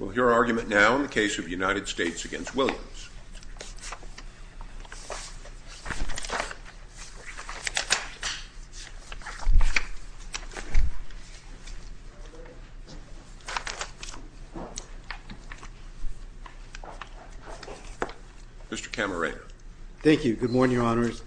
We will hear our argument now in the case of the United States v. Williams. Mr. Camarena. Thank you. Good morning, Your Honors.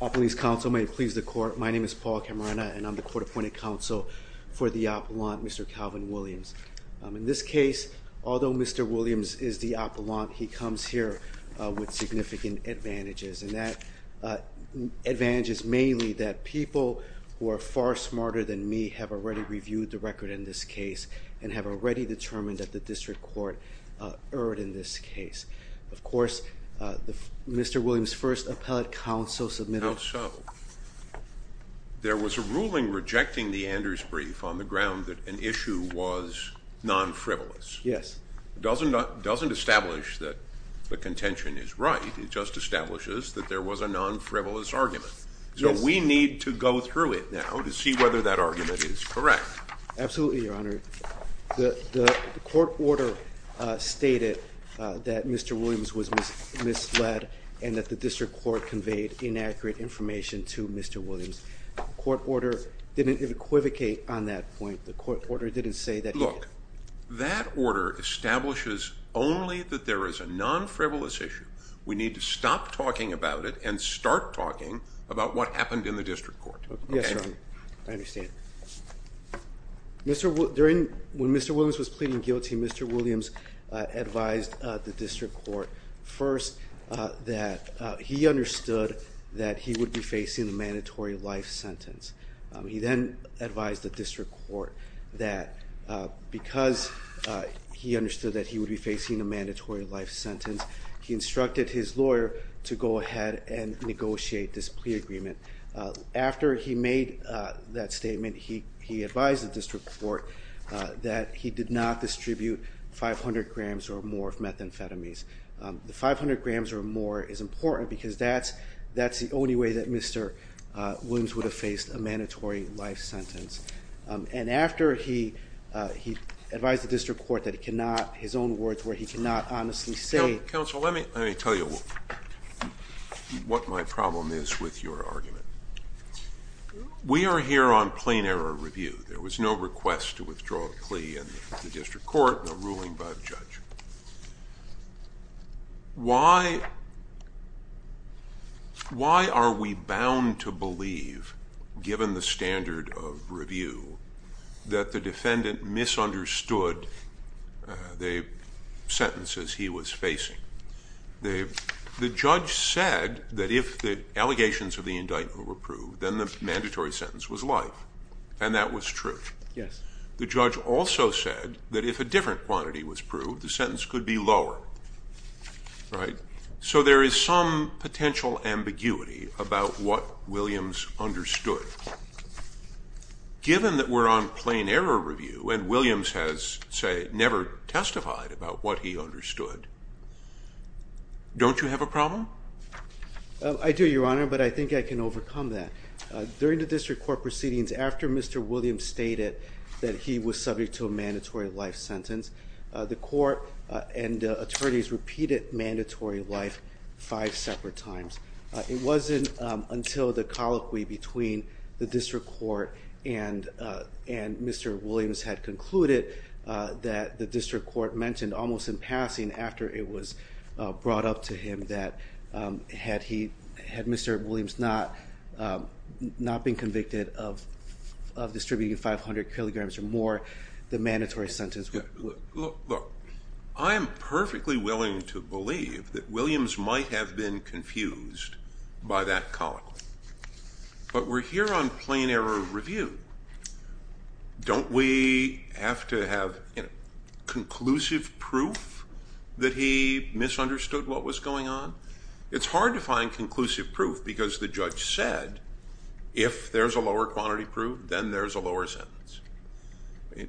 All police counsel may please the court. My name is Paul Camarena and I'm the court appointed counsel for the appellant, Mr. Calvin Williams. In this case, although Mr. Williams is the appellant, he comes here with significant advantages. And that advantage is mainly that people who are far smarter than me have already reviewed the record in this case and have already determined that the district court erred in this case. Of course, Mr. Williams' first appellate counsel submitted… How so? There was a ruling rejecting the Anders brief on the ground that an issue was non-frivolous. Yes. It doesn't establish that the contention is right. It just establishes that there was a non-frivolous argument. Yes. So we need to go through it now to see whether that argument is correct. Absolutely, Your Honor. The court order stated that Mr. Williams was misled and that the district court conveyed inaccurate information to Mr. Williams. The court order didn't equivocate on that point. The court order didn't say that he… Look, that order establishes only that there is a non-frivolous issue. We need to stop talking about it and start talking about what happened in the district court. Yes, Your Honor. I understand. When Mr. Williams was pleading guilty, Mr. Williams advised the district court first that he understood that he would be facing a mandatory life sentence. He then advised the district court that because he understood that he would be facing a mandatory life sentence, he instructed his lawyer to go ahead and negotiate this plea agreement. After he made that statement, he advised the district court that he did not distribute 500 grams or more of methamphetamines. The 500 grams or more is important because that's the only way that Mr. Williams would have faced a mandatory life sentence. And after he advised the district court that he cannot, his own words were he cannot honestly say… Counsel, let me tell you what my problem is with your argument. We are here on plain error review. There was no request to withdraw the plea in the district court, no ruling by the judge. Why are we bound to believe, given the standard of review, that the defendant misunderstood the sentences he was facing? The judge said that if the allegations of the indictment were proved, then the mandatory sentence was life, and that was true. The judge also said that if a different quantity was proved, the sentence could be lower. So there is some potential ambiguity about what Williams understood. But given that we're on plain error review and Williams has, say, never testified about what he understood, don't you have a problem? I do, Your Honor, but I think I can overcome that. During the district court proceedings, after Mr. Williams stated that he was subject to a mandatory life sentence, the court and attorneys repeated mandatory life five separate times. It wasn't until the colloquy between the district court and Mr. Williams had concluded that the district court mentioned almost in passing, after it was brought up to him, that had Mr. Williams not been convicted of distributing 500 kilograms or more, the mandatory sentence would have been life. Look, I'm perfectly willing to believe that Williams might have been confused by that colloquy, but we're here on plain error review. Don't we have to have conclusive proof that he misunderstood what was going on? It's hard to find conclusive proof because the judge said, if there's a lower quantity proved, then there's a lower sentence.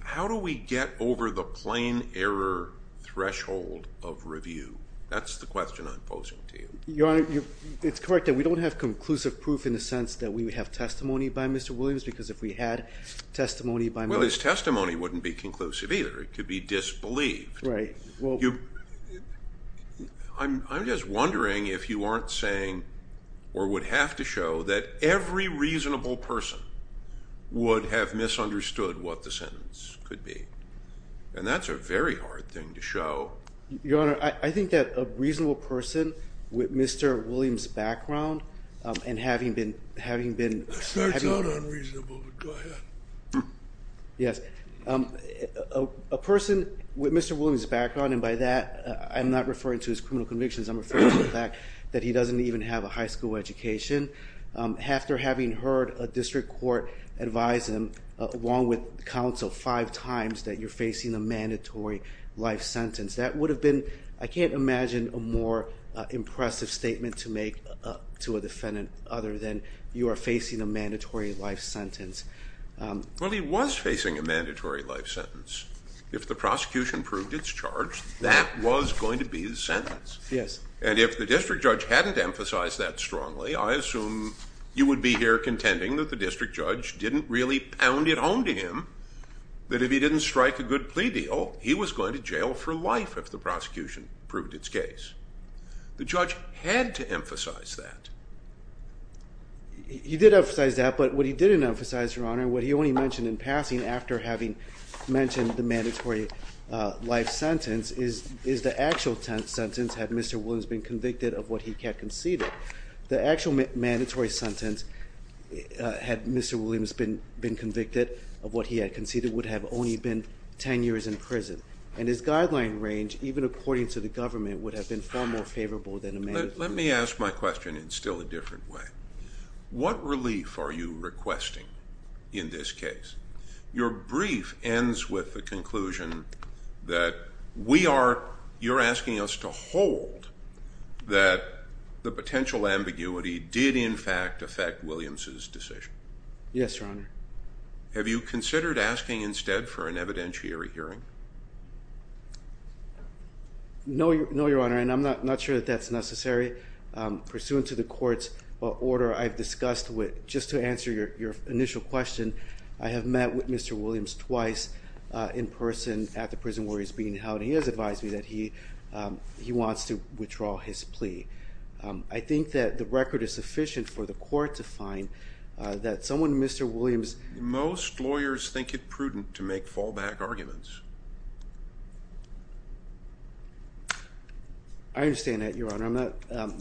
How do we get over the plain error threshold of review? That's the question I'm posing to you. Your Honor, it's correct that we don't have conclusive proof in the sense that we have testimony by Mr. Williams, because if we had testimony by Mr. Williams- Well, his testimony wouldn't be conclusive either. It could be disbelieved. Right. Well- I'm just wondering if you aren't saying, or would have to show, that every reasonable person would have misunderstood what the sentence could be. And that's a very hard thing to show. Your Honor, I think that a reasonable person with Mr. Williams' background, and having been- That starts out unreasonable, but go ahead. Yes. A person with Mr. Williams' background, and by that I'm not referring to his criminal convictions, I'm referring to the fact that he doesn't even have a high school education. After having heard a district court advise him, along with counsel, five times that you're facing a mandatory life sentence, that would have been, I can't imagine, a more impressive statement to make to a defendant other than, you are facing a mandatory life sentence. Well, he was facing a mandatory life sentence. If the prosecution proved it's charged, that was going to be his sentence. Yes. And if the district judge hadn't emphasized that strongly, I assume you would be here contending that the district judge didn't really pound it home to him, that if he didn't strike a good plea deal, he was going to jail for life if the prosecution proved it's case. The judge had to emphasize that. He did emphasize that, but what he didn't emphasize, Your Honor, what he only mentioned in passing after having mentioned the mandatory life sentence, is the actual sentence had Mr. Williams been convicted of what he had conceded. The actual mandatory sentence, had Mr. Williams been convicted of what he had conceded, would have only been 10 years in prison, and his guideline range, even according to the government, would have been far more favorable than a mandatory sentence. Let me ask my question in still a different way. What relief are you requesting in this case? Your brief ends with the conclusion that you're asking us to hold that the potential ambiguity did, in fact, affect Williams' decision. Yes, Your Honor. Have you considered asking instead for an evidentiary hearing? No, Your Honor, and I'm not sure that that's necessary. Pursuant to the court's order I've discussed with, just to answer your initial question, I have met with Mr. Williams twice in person at the prison where he's being held. He has advised me that he wants to withdraw his plea. I think that the record is sufficient for the court to find that someone Mr. Williams Most lawyers think it prudent to make fallback arguments. I understand that, Your Honor.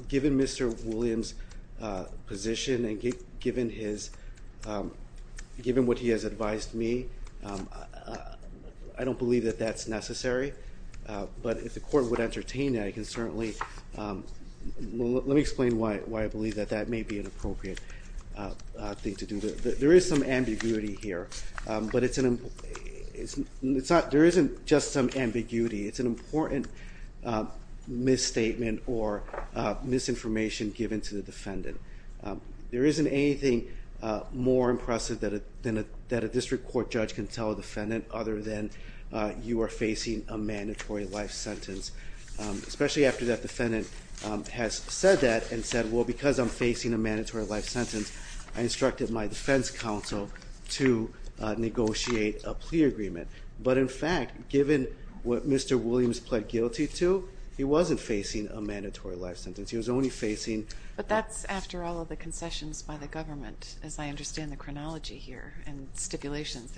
Given Mr. Williams' position and given what he has advised me, I don't believe that that's necessary. But if the court would entertain that, I can certainly Let me explain why I believe that that may be an appropriate thing to do. There is some ambiguity here, but there isn't just some ambiguity. It's an important misstatement or misinformation given to the defendant. There isn't anything more impressive that a district court judge can tell a defendant other than you are facing a mandatory life sentence. Especially after that defendant has said that and said, Well, because I'm facing a mandatory life sentence, I instructed my defense counsel to negotiate a plea agreement. But in fact, given what Mr. Williams pled guilty to, he wasn't facing a mandatory life sentence. He was only facing But that's after all of the concessions by the government. As I understand the chronology here and stipulations,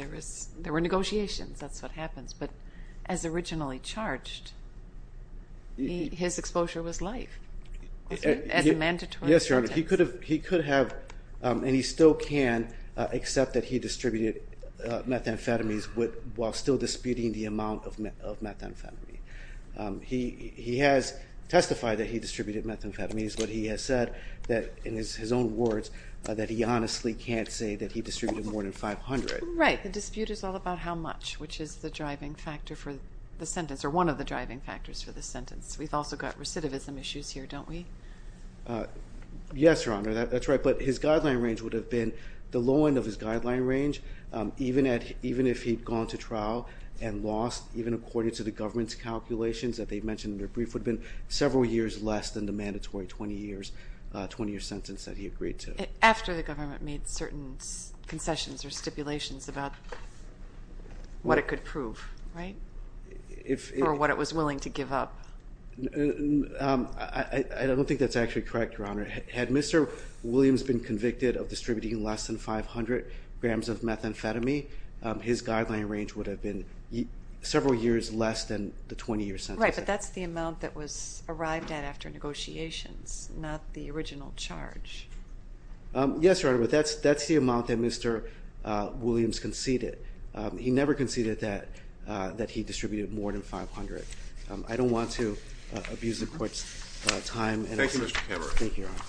there were negotiations. That's what happens. But as originally charged, his exposure was life as a mandatory sentence. Yes, Your Honor. He could have, and he still can, accept that he distributed methamphetamines while still disputing the amount of methamphetamine. He has testified that he distributed methamphetamines, but he has said in his own words that he honestly can't say that he distributed more than 500. Right. The dispute is all about how much, which is the driving factor for the sentence or one of the driving factors for the sentence. We've also got recidivism issues here, don't we? Yes, Your Honor, that's right. But his guideline range would have been the low end of his guideline range, even if he'd gone to trial and lost, even according to the government's calculations that they mentioned in their brief, would have been several years less than the mandatory 20-year sentence that he agreed to. After the government made certain concessions or stipulations about what it could prove, right? Or what it was willing to give up. I don't think that's actually correct, Your Honor. Had Mr. Williams been convicted of distributing less than 500 grams of methamphetamine, his guideline range would have been several years less than the 20-year sentence. Right, but that's the amount that was arrived at after negotiations, not the original charge. Yes, Your Honor, but that's the amount that Mr. Williams conceded. He never conceded that he distributed more than 500. I don't want to abuse the Court's time. Thank you, Mr. Cameron. Thank you, Your Honor.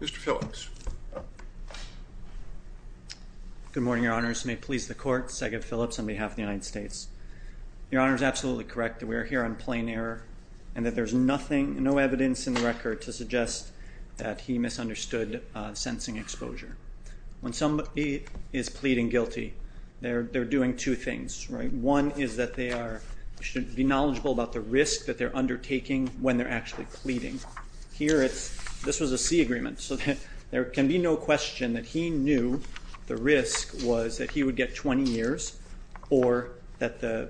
Mr. Phillips. Good morning, Your Honors. May it please the Court, Sagan Phillips on behalf of the United States. Your Honor is absolutely correct that we are here on plain error and that there's no evidence in the record to suggest that he misunderstood sensing exposure. When somebody is pleading guilty, they're doing two things, right? One is that they should be knowledgeable about the risk that they're undertaking when they're actually pleading. Here, this was a C agreement, so there can be no question that he knew the risk was that he would get 20 years The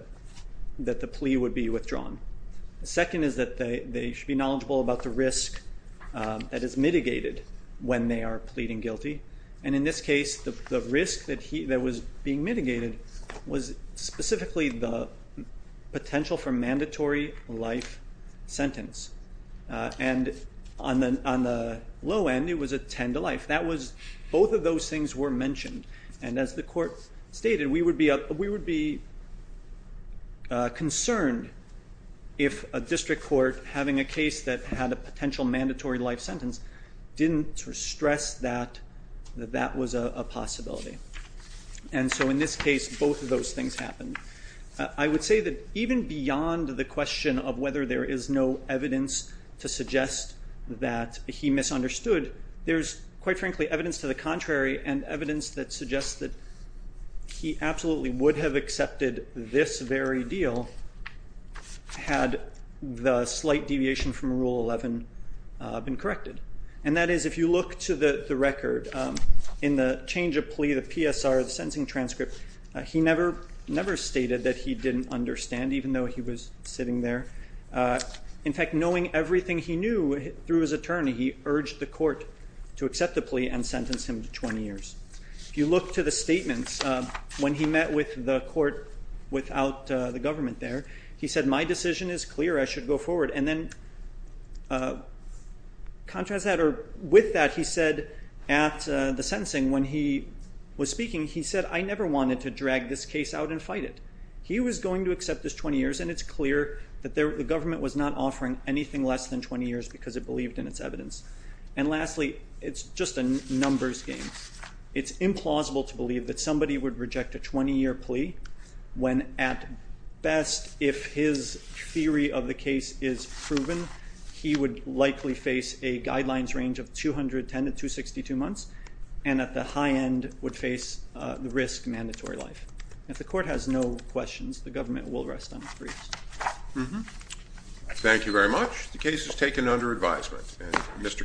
second is that they should be knowledgeable about the risk that is mitigated when they are pleading guilty. And in this case, the risk that was being mitigated was specifically the potential for mandatory life sentence. And on the low end, it was a 10 to life. Both of those things were mentioned. And as the Court stated, we would be concerned if a district court having a case that had a potential mandatory life sentence didn't stress that that was a possibility. And so in this case, both of those things happened. I would say that even beyond the question of whether there is no evidence to suggest that he misunderstood, there's, quite frankly, evidence to the contrary and evidence that suggests that he absolutely would have accepted this very deal had the slight deviation from Rule 11 been corrected. And that is, if you look to the record, in the change of plea, the PSR, the sentencing transcript, he never stated that he didn't understand, even though he was sitting there. In fact, knowing everything he knew through his attorney, he urged the Court to accept the plea and sentence him to 20 years. If you look to the statements, when he met with the Court without the government there, he said, My decision is clear. I should go forward. And then, contrast that, or with that, he said at the sentencing when he was speaking, he said, I never wanted to drag this case out and fight it. He was going to accept this 20 years, and it's clear that the government was not offering anything less than 20 years because it believed in its evidence. And lastly, it's just a numbers game. It's implausible to believe that somebody would reject a 20-year plea when, at best, if his theory of the case is proven, he would likely face a guidelines range of 210 to 262 months, and at the high end would face the risk of mandatory life. If the Court has no questions, the government will rest on its briefs. Thank you very much. The case is taken under advisement.